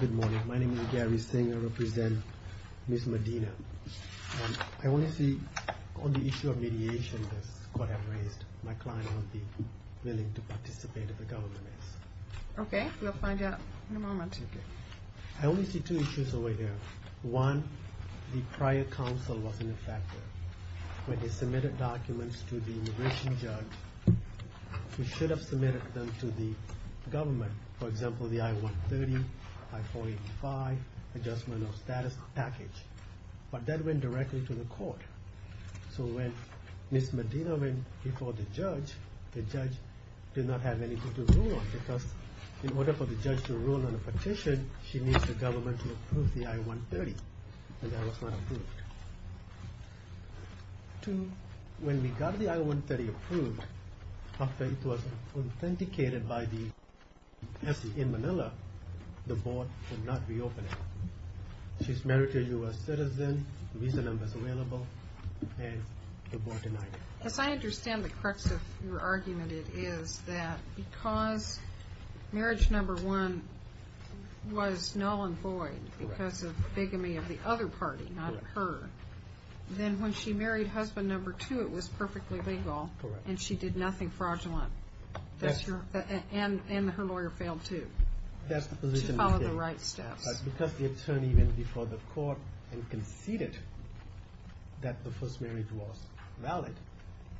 Good morning. My name is Gary Singh. I represent Ms. Medina. I only see on the issue of mediation that Scott had raised, my client won't be willing to participate if the government is. Okay, we'll find out in a moment. I only see two issues over here. One, the prior counsel wasn't a factor. When they submitted them to the government, for example, the I-130, I-485 adjustment of status package, but that went directly to the court. So when Ms. Medina went before the judge, the judge did not have anything to rule on because in order for the judge to rule on a petition, she needs the government to approve the I-130, and that was not approved. When we got the I-130 approved, her faith was authenticated in Manila, the board would not reopen it. She's a married U.S. citizen, visa number is available, and the board denied it. As I understand the crux of your argument, it is that because marriage number one was null and void because of bigamy of the other party, not her, then when she married husband number two, it was perfectly legal, and she did nothing fraudulent, and her lawyer failed too, to follow the right steps. Because the attorney went before the court and conceded that the first marriage was valid,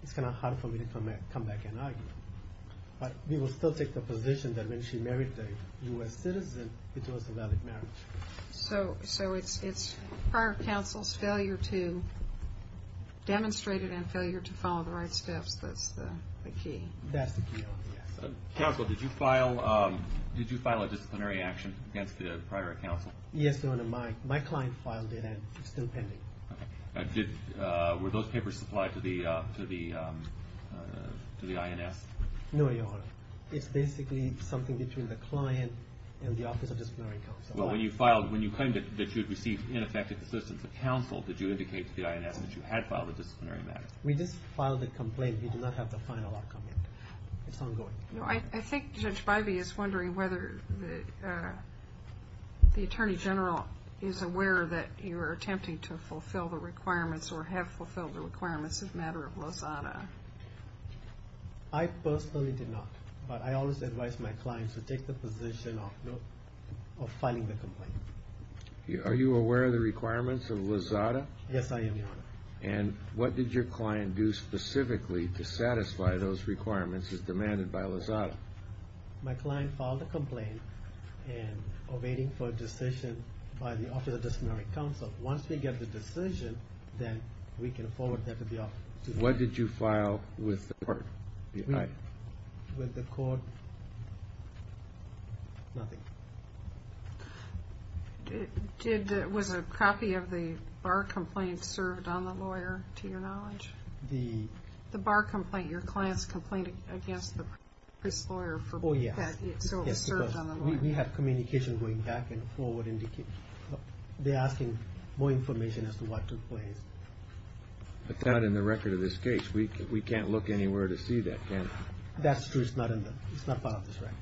it's kind of hard for me to come back and argue. But we will still take the position that when she married a U.S. citizen, it was a valid marriage. So it's prior counsel's failure to demonstrate it and failure to follow the right steps, that's the key? That's the key. Counsel, did you file a disciplinary action against the prior counsel? Yes, Your Honor, my client filed it and it's still pending. Were those papers supplied to the INS? No, Your Honor. It's basically something between the client and the office of disciplinary counsel. Well, when you filed, when you claimed that you'd received ineffective assistance of counsel, did you indicate to the INS that you had filed a disciplinary matter? We just filed a complaint. We do not have the final argument. It's ongoing. I think Judge Bivey is wondering whether the Attorney General is aware that you're attempting to fulfill the requirements or have fulfilled the requirements in the matter of Lozada. I personally do not, but I always advise my clients to take the position of filing the complaint. Are you aware of the requirements of Lozada? Yes, I am, Your Honor. And what did your client do specifically to satisfy those requirements as demanded by Lozada? My client filed a complaint and awaiting for a decision by the office of disciplinary counsel. Once we get the decision, then we can forward that to the office. What did you file with the court? With the court? Nothing. Was a copy of the bar complaint served on the lawyer, to your knowledge? The... The bar complaint, your client's complaint against the previous lawyer for... Oh, yes. So it was served on the lawyer. Yes, because we had communication going back and forward indicating... They're asking more information as to what took place. But that, in the record of this case, we can't look anywhere to see that, can we? That's true. It's not in the... It's not filed in this record.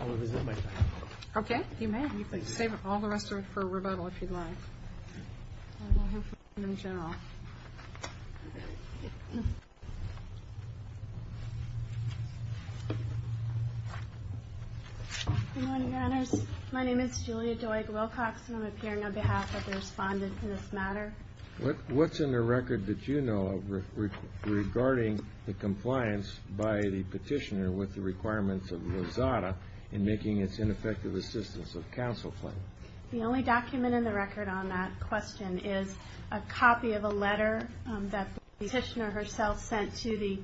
I will visit my client. Okay, you may. Save all the rest for rebuttal if you'd like. I don't know him in general. Good morning, your honors. My name is Julia Doig Wilcox and I'm appearing on behalf of the respondent in this matter. What's in the record that you know of regarding the compliance by the petitioner with the requirements of Lozada in making its ineffective assistance of counsel claim? The only document in the record on that question is a copy of a letter that the petitioner herself sent to the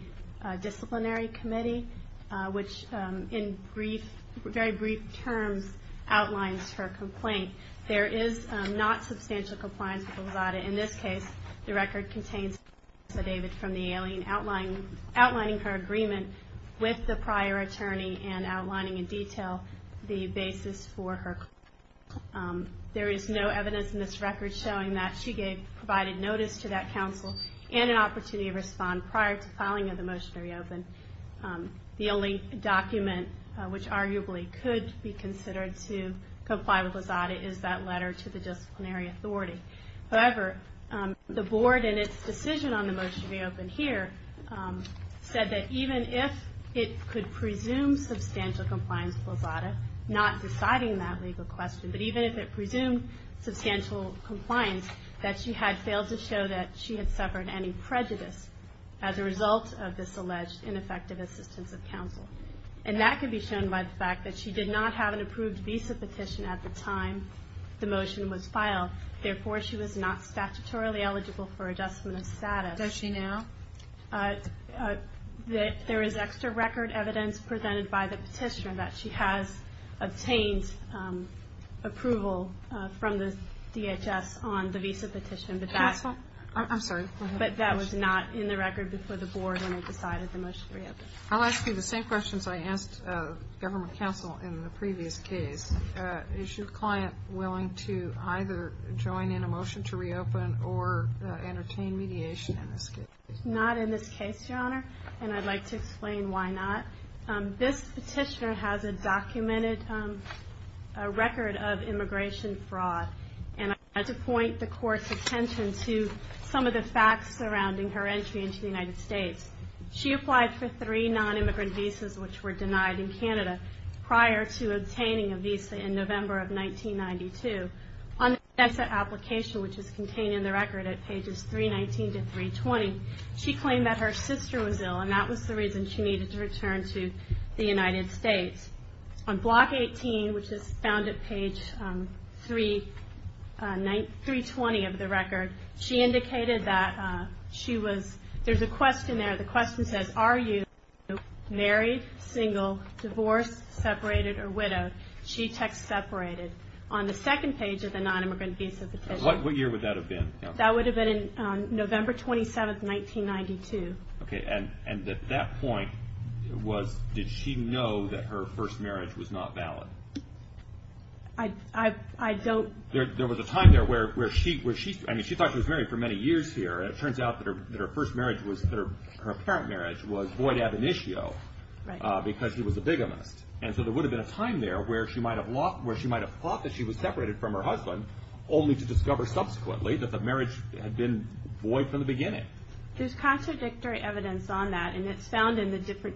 disciplinary committee which, in brief, very brief terms, outlines her complaint. There is not substantial compliance with Lozada in this case. The record contains evidence from the alien outlining her agreement with the prior attorney and outlining in detail the basis for her complaint. There is no evidence in this record showing that she provided notice to that counsel and an opportunity to respond prior to filing of the motion to reopen. The only document which arguably could be considered to comply with Lozada is that letter to the disciplinary authority. However, the board in its decision on the motion to reopen here said that even if it could presume substantial compliance with Lozada, not deciding that legal question, but even if it presumed substantial compliance, that she had failed to show that she had suffered any prejudice as a result of this alleged ineffective assistance of counsel. And that could be shown by the fact that she did not have an approved visa petition at the time the motion was filed. Therefore, she was not statutorily eligible for adjustment of status. Does she now? There is extra record evidence presented by the petitioner that she has obtained approval from the DHS on the visa petition, but that was not in the record before the board when they decided the motion to reopen. I'll ask you the same questions I asked government counsel in the previous case. Is your client willing to either join in a motion to reopen or entertain mediation in this case? Not in this case, Your Honor, and I'd like to explain why not. This petitioner has a documented record of immigration fraud, and I'd like to point the Court's attention to some of the facts surrounding her entry into the United States. She applied for three non-immigrant visas which were denied in Canada prior to obtaining a visa in November of 1992. On the NSSA application, which is contained in the record at pages 319 to 320, she claimed that her sister was ill, and that was the reason she needed to return to the United States. On block 18, which is found at page 320 of the record, she indicated that she was... There's a question there. The question says, Are you married, single, divorced, separated, or widowed? She texts separated. On the second page of the non-immigrant visa petition... What year would that have been? That would have been November 27, 1992. And at that point, did she know that her first marriage was not valid? I don't... There was a time there where she thought she was married for many years here, and it turns out that her first marriage, her apparent marriage, was void ab initio, because she was a bigamist. And so there would have been a time there where she might have thought that she was separated from her husband, only to discover subsequently that the marriage had been void from the beginning. There's contradictory evidence on that, and it's found in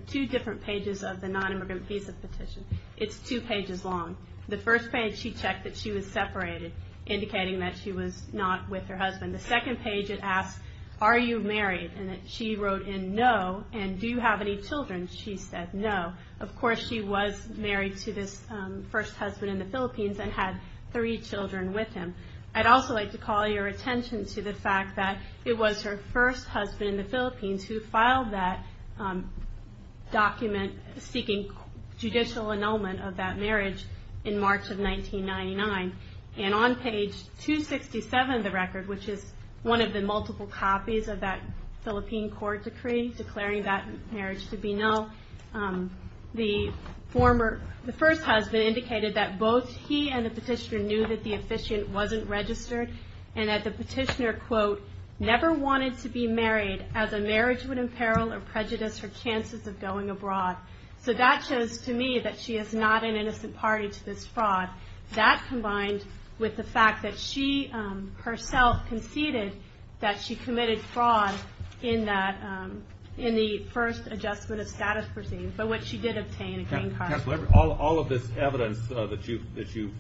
two different pages of the non-immigrant visa petition. It's two pages long. The first page, she checked that she was separated, indicating that she was not with her husband. The second page, it asks, Are you married? And she wrote in, No. And, Do you have any children? She said, No. Of course, she was married to this first husband in the Philippines, and had three children with him. I'd also like to call your attention to the fact that it was her first husband in the Philippines who filed that document seeking judicial annulment of that marriage in March of 1999. And on page 267 of the record, which is one of the multiple copies of that Philippine court decree declaring that marriage to be null, the first husband indicated that both he and the petitioner knew that the officiant wasn't registered, and that the petitioner, quote, never wanted to be married as a marriage would imperil or prejudice her chances of going abroad. So that shows to me that she is not an innocent party to this fraud. That combined with the fact that she herself conceded that she committed fraud in the first adjustment of status proceedings, but which she did obtain a green card. All of this evidence that you've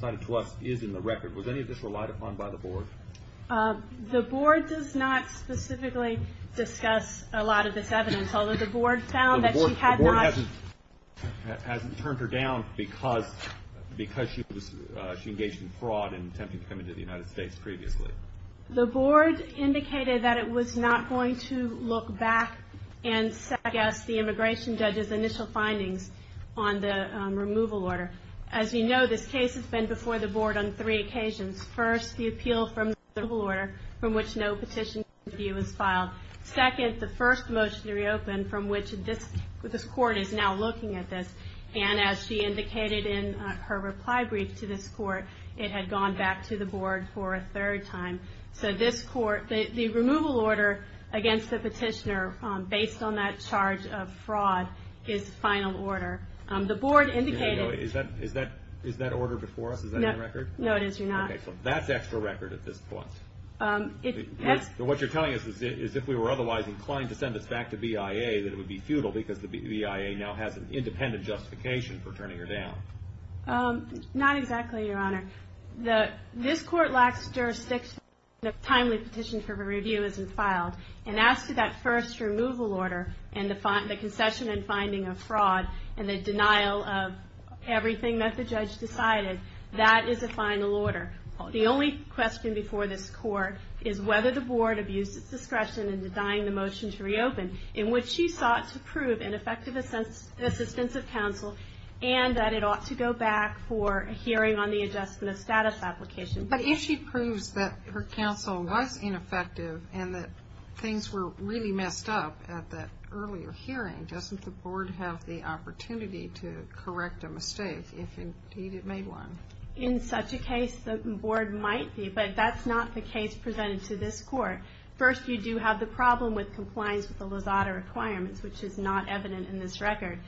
cited to us is in the record. Was any of this relied upon by the board? The board does not specifically discuss a lot of this evidence, although the board found that she had not... The board hasn't turned her down because she engaged in fraud in attempting to come into the United States previously. The board indicated that it was not going to look back and suggest the immigration judge's initial findings on the removal order. As you know, this case has been before the board on three occasions. First, the appeal from the removal order, from which no petition review was filed. Second, the first motion to reopen, from which this court is now looking at this. And as she indicated in her reply brief to this court, it had gone back to the board for a third time. So this court, the removal order against the petitioner, based on that charge of fraud, is final order. The board indicated... Is that order before us? Is that in the record? No, it is not. Okay, so that's extra record at this point. What you're telling us is if we were otherwise inclined to send this back to BIA, that it would be futile because the BIA now has an independent justification for turning her down. Not exactly, Your Honor. This court lacks jurisdiction if a timely petition for review isn't filed. And as to that first removal order, and the concession and finding of fraud, and the denial of everything that the judge decided, that is a final order. The only question before this court is whether the board abused its discretion in designing the motion to reopen, in which she sought to prove ineffective assistance of counsel, and that it ought to go back for a hearing on the adjustment of status application. But if she proves that her counsel was ineffective, and that things were really messed up at that earlier hearing, doesn't the board have the opportunity to correct a mistake, if indeed it made one? In such a case, the board might be, but that's not the case presented to this court. First, you do have the problem with compliance with the Lozada requirements, which is not evident in this record.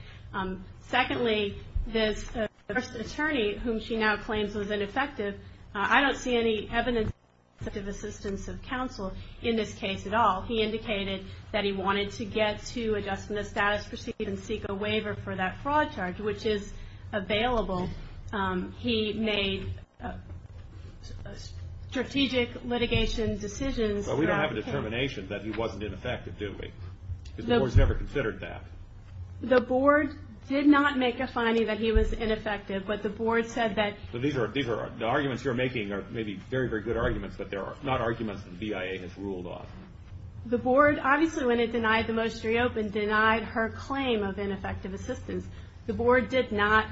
Secondly, this first attorney, whom she now claims was ineffective, I don't see any evidence of ineffective assistance of counsel in this case at all. He indicated that he wanted to get to adjustment of status proceeding and seek a waiver for that fraud charge, which is available. He made strategic litigation decisions. But we don't have a determination that he wasn't ineffective, do we? Because the board has never considered that. The board did not make a finding that he was ineffective, but the board said that... The arguments you're making are maybe very, very good arguments, but they're not arguments that the BIA has ruled off. The board, obviously when it denied the most reopened, denied her claim of ineffective assistance. The board did not.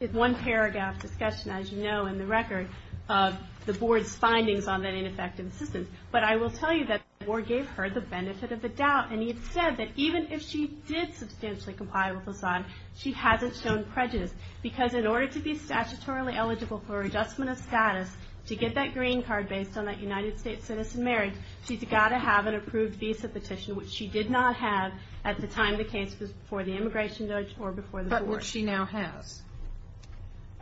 It's one paragraph discussion, as you know, in the record, of the board's findings on that ineffective assistance. But I will tell you that the board gave her the benefit of the doubt, and it said that even if she did substantially comply with Lozada, she hasn't shown prejudice. Because in order to be statutorily eligible for adjustment of status, to get that green card based on that United States citizen marriage, she's got to have an approved visa petition, which she did not have at the time the case was before the immigration judge or before the court. But which she now has.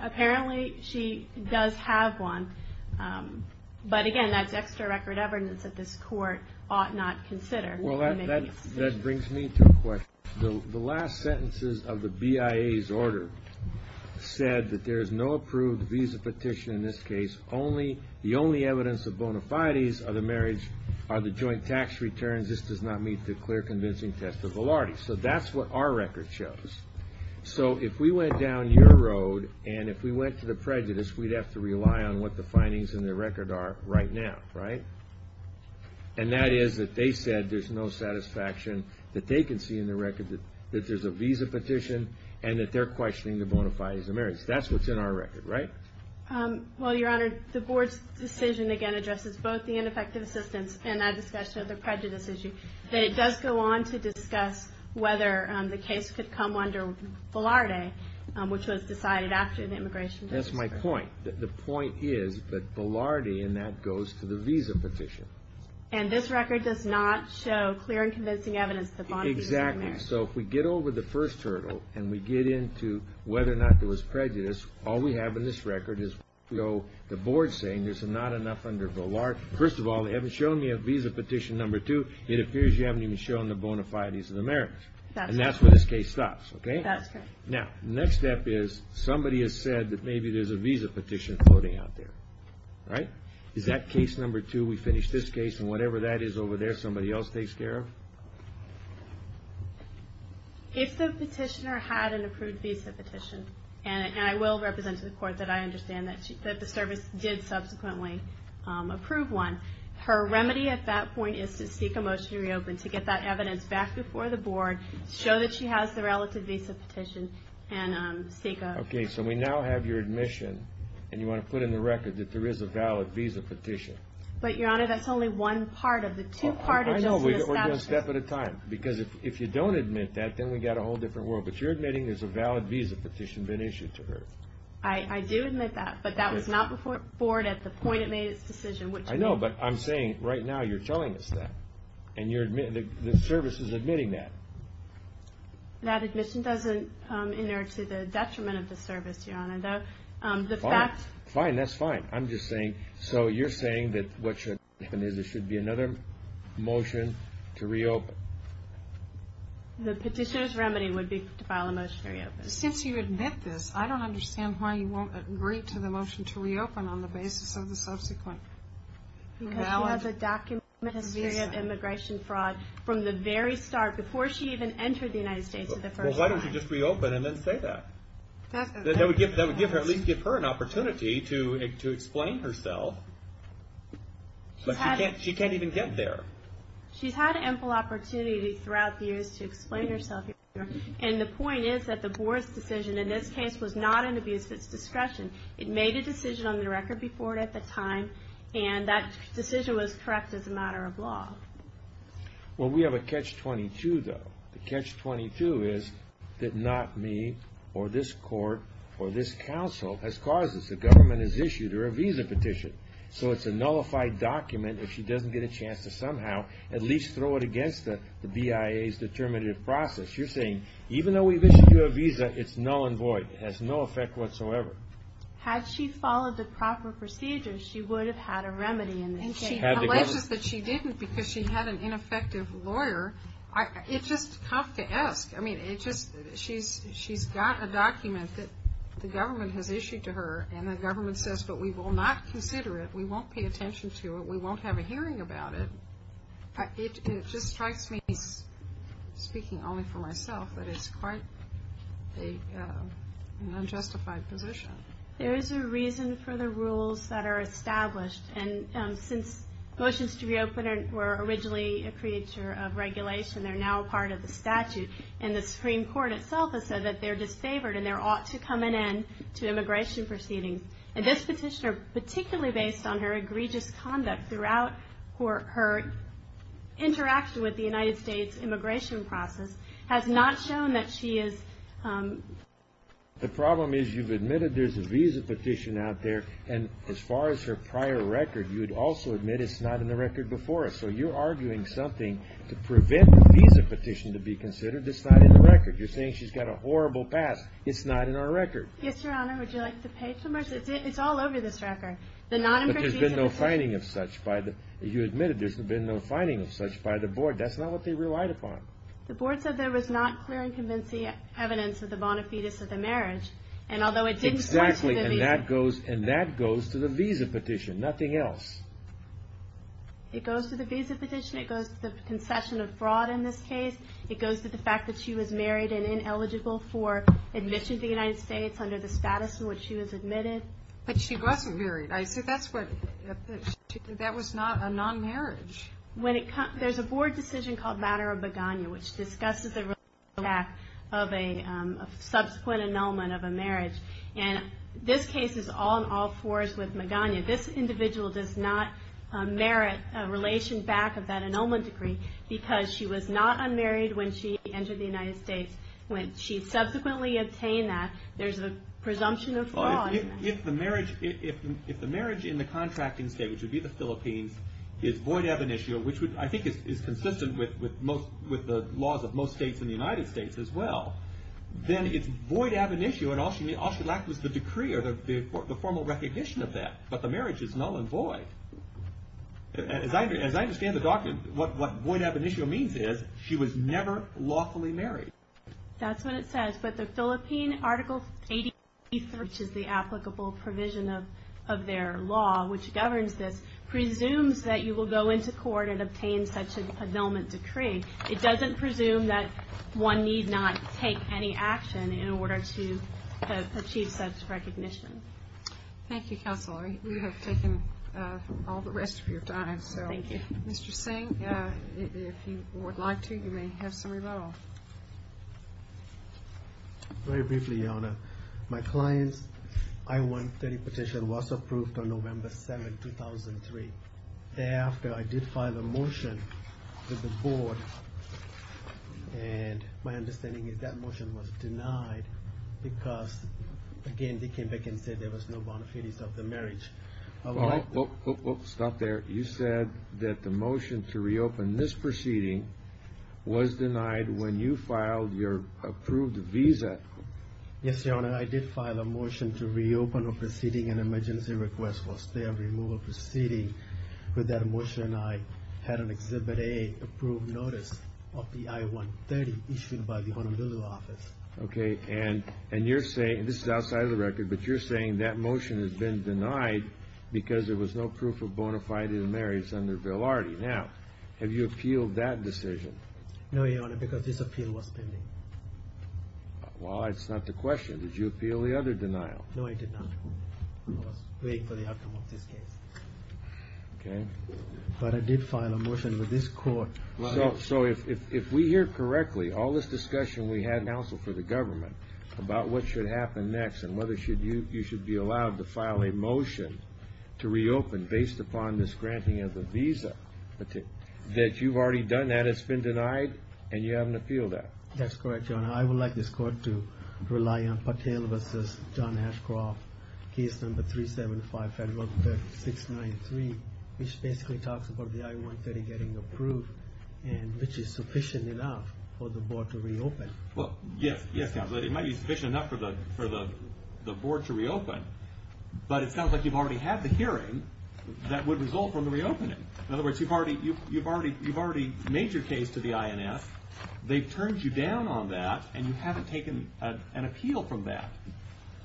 Apparently, she does have one. But again, that's extra record evidence that this court ought not consider. Well, that brings me to a question. The last sentences of the BIA's order said that there's no approved visa petition in this case. The only evidence of bona fides of the marriage are the joint tax returns. This does not meet the clear convincing test of validity. So that's what our record shows. So if we went down your road, and if we went to the prejudice, we'd have to rely on what the findings in the record are right now, right? And that is that they said there's no satisfaction that they can see in the record that there's a visa petition, and that they're questioning the bona fides of marriage. That's what's in our record, right? Well, Your Honor, the board's decision again addresses both the ineffective assistance and that discussion of the prejudice issue. But it does go on to discuss whether the case could come under Velarde, which was decided after the immigration judge. That's my point. The point is that Velarde in that goes to the visa petition. And this record does not show clear and convincing evidence that bona fides of marriage. Exactly. So if we get over the first hurdle, and we get into whether or not there was prejudice, all we have in this record is the board saying there's not enough under Velarde. First of all, they haven't shown me a visa petition number two. It appears you haven't even shown the bona fides of the marriage. And that's where this case stops, okay? That's correct. Now, the next step is somebody has said that maybe there's a visa petition floating out there, right? Is that case number two, we finish this case, and whatever that is over there, somebody else takes care of? If the petitioner had an approved visa petition, and I will represent to the court that I understand that the service did subsequently approve one, her remedy at that point is to seek a motion to reopen, to get that evidence back before the board, show that she has the relative visa petition, and seek a- Okay, so we now have your admission, and you want to put in the record that there is a valid visa petition. But, Your Honor, that's only one part of the two- I know, we're doing a step at a time. Because if you don't admit that, then we've got a whole different world. But you're admitting there's a valid visa petition been issued to her. I do admit that, but that was not before the board at the point it made its decision. I know, but I'm saying, right now, you're telling us that. And the service is admitting that. That admission doesn't inert to the detriment of the service, Your Honor. Fine, that's fine. I'm just saying, so you're saying that what should happen is there should be another motion to reopen. The petitioner's remedy would be to file a motion to reopen. Since you admit this, I don't understand why you won't agree to the motion to reopen on the basis of the subsequent valid visa. Because she has a document of immigration fraud from the very start, before she even entered the United States for the first time. Well, why don't you just reopen and then say that? That would at least give her an opportunity to explain herself. But she can't even get there. She's had ample opportunity throughout the years to explain herself, Your Honor. And the point is that the board's decision in this case was not an abuse of its discretion. It made a decision on the record before it at the time. And that decision was correct as a matter of law. Well, we have a catch-22, though. The catch-22 is that not me or this court or this counsel has caused this. The government has issued her a visa petition. So it's a nullified document if she doesn't get a chance to somehow at least throw it against the BIA's determinative process. You're saying even though we've issued you a visa, it's null and void. It has no effect whatsoever. Had she followed the proper procedures, she would have had a remedy in this case. And she alleges that she didn't because she had an ineffective lawyer. It's just tough to ask. I mean, she's got a document that the government has issued to her. And the government says, but we will not consider it. We won't pay attention to it. We won't have a hearing about it. It just strikes me, speaking only for myself, that it's quite an unjustified position. There is a reason for the rules that are established. And since motions to reopen were originally a creature of regulation, they're now part of the statute. And the Supreme Court itself has said that they're disfavored and there ought to come an end to immigration proceedings. And this petitioner, particularly based on her egregious conduct throughout her interaction with the United States immigration process, has not shown that she is... The problem is you've admitted there's a visa petition out there. And as far as her prior record, you'd also admit it's not in the record before us. So you're arguing something to prevent the visa petition to be considered. It's not in the record. You're saying she's got a horrible past. It's not in our record. Yes, Your Honor. Would you like to pay for it? It's all over this record. But there's been no finding of such by the... You admitted there's been no finding of such by the board. That's not what they relied upon. The board said there was not clear and convincing evidence of the bona fides of the marriage. And although it didn't... Exactly. And that goes to the visa petition. Nothing else. It goes to the visa petition. It goes to the concession of fraud in this case. It goes to the fact that she was married and ineligible for admission to the United States under the status in which she was admitted. But she wasn't married. I said that's what... That was not a non-marriage. When it comes... There's a board decision called Matter of Magana, which discusses the impact of a subsequent annulment of a marriage. And this case is all in all fours with Magana. This individual does not merit a relation back of that annulment decree because she was not unmarried when she entered the United States. When she subsequently obtained that, there's a presumption of fraud. If the marriage in the contracting state, which would be the Philippines, is void ab initio, which I think is consistent with the laws of most states in the United States as well, then it's void ab initio and all she lacked was the decree or the formal recognition of that. But the marriage is null and void. As I understand the document, what void ab initio means is she was never lawfully married. That's what it says. But the Philippine Article 83, which is the applicable provision of their law, which governs this, presumes that you will go into court and obtain such an annulment decree. It doesn't presume that one need not take any action in order to achieve such recognition. Thank you, Counselor. We have taken all the rest of your time. Thank you. Mr. Singh, if you would like to, you may have some rebuttal. Very briefly, Your Honor. My client's I-130 petition was approved on November 7, 2003. Thereafter, I did file a motion to the Board and my understanding is that motion was denied because, again, they came back and said there was no bona fides of the marriage. Stop there. You said that the motion to reopen this proceeding was denied when you filed your approved visa. Yes, Your Honor. I did file a motion to reopen a proceeding, an emergency request for stay of removal proceeding. With that motion, I had an Exhibit A approved notice of the I-130 issued by the Honorable Law Office. Okay. And you're saying, this is outside of the record, but you're saying that motion has been denied because there was no proof of bona fide in the marriage under Villardi. Now, have you appealed that decision? No, Your Honor, because this appeal was pending. Well, that's not the question. Did you appeal the other denial? No, I did not. I was waiting for the outcome of this case. Okay. But I did file a motion with this court. So, if we hear correctly, all this discussion we had with the counsel for the government about what should happen next and whether you should be allowed to file a motion to reopen based upon this granting of the visa, that you've already done that, it's been denied, and you haven't appealed that. That's correct, Your Honor. I would like this court to rely on Patel v. John Ashcroft, case number 375, Federal Bill 693, which basically talks about the I-130 getting approved, which is sufficient enough for the board to reopen. Well, yes. It might be sufficient enough for the board to reopen, but it sounds like you've already had the hearing that would result from the reopening. In other words, you've already made your case to the INS, they've turned you down on that, and you haven't taken an appeal from that.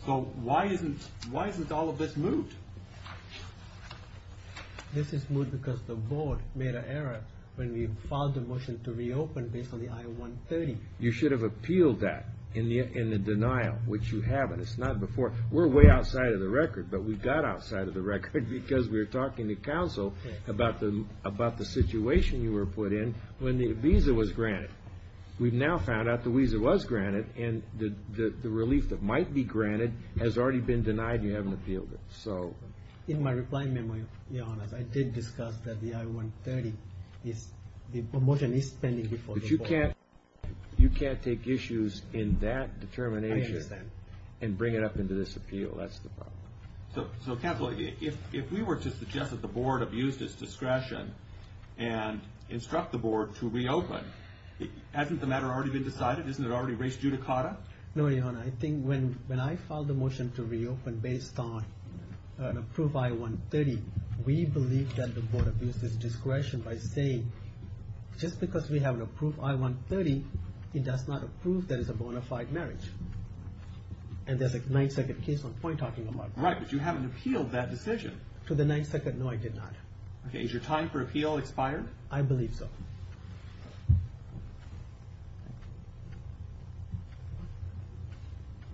So, why isn't all of this moved? This is moved because the board made an error when we filed a motion to reopen based on the I-130. You should have appealed that in the denial, which you haven't. It's not before. We're way outside of the record, but we got outside of the record because we were talking to counsel about the situation you were put in when the visa was granted. We've now found out the visa was granted, and the relief that might be granted has already been denied, and you haven't appealed it. In my reply memo, your Honor, I did discuss that the I-130, the motion is pending before the board. But you can't take issues in that determination and bring it up into this appeal. That's the problem. So, counsel, if we were to suggest that the board have used its discretion and instruct the board to reopen, hasn't the matter already been decided? Isn't it already raised judicata? No, your Honor. I think when I filed the motion to reopen based on an approved I-130, we believe that the board abused its discretion by saying, just because we have an approved I-130, it does not approve that it's a bona fide marriage. And there's a Ninth Circuit case on point talking about that. Right, but you haven't appealed that decision. To the Ninth Circuit, no, I did not. Okay, is your time for appeal expired? I believe so.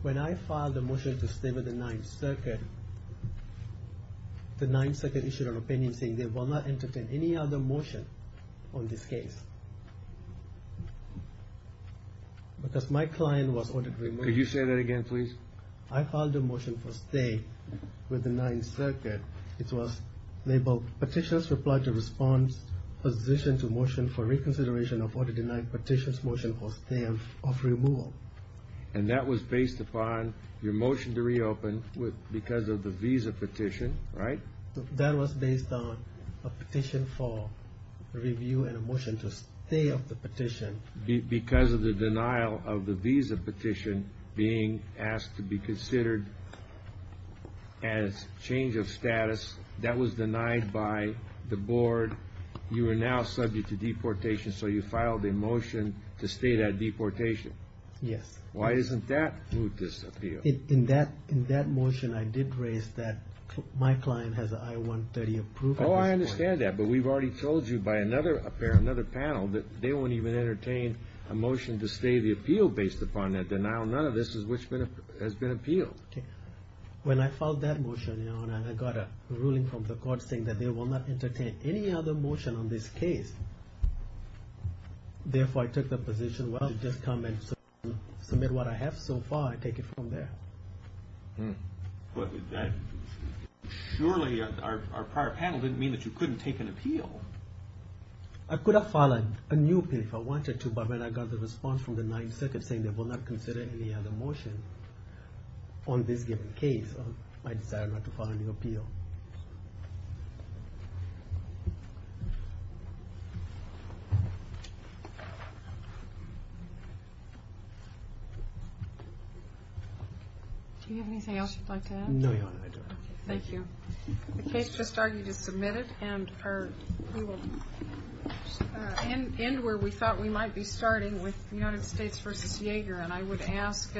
When I filed the motion to stay with the Ninth Circuit, the Ninth Circuit issued an opinion saying they will not entertain any other motion on this case. Because my client was ordered removal. Could you say that again, please? I filed a motion for stay with the Ninth Circuit. It was labeled, Petitions reply to response, position to motion for reconsideration of order denying petitions, motion for stay of removal. And that was based upon your motion to reopen because of the visa petition, right? That was based on a petition for review and a motion to stay of the petition. Because of the denial of the visa petition being asked to be considered as change of status, that was denied by the board. You are now subject to deportation, so you filed a motion to stay that deportation. Yes. Why isn't that moved as appeal? In that motion, I did raise that my client has an I-130 approved. Oh, I understand that, but we've already told you by another panel that they won't even entertain a motion to stay the appeal based upon that denial. None of this has been appealed. When I filed that motion, I got a ruling from the court saying that they will not entertain any other motion on this case. Therefore, I took the position, well, I'll just come and submit what I have so far and take it from there. But surely our prior panel didn't mean that you couldn't take an appeal. I could have filed a new appeal if I wanted to, but when I got the response from the 9th Circuit saying they will not consider any other motion on this given case, I decided not to file a new appeal. Thank you. Do you have anything else you'd like to add? No, Your Honor, I don't. Thank you. The case just argued is submitted, and we will end where we thought we might be starting, with United States v. Yaeger. And I would ask...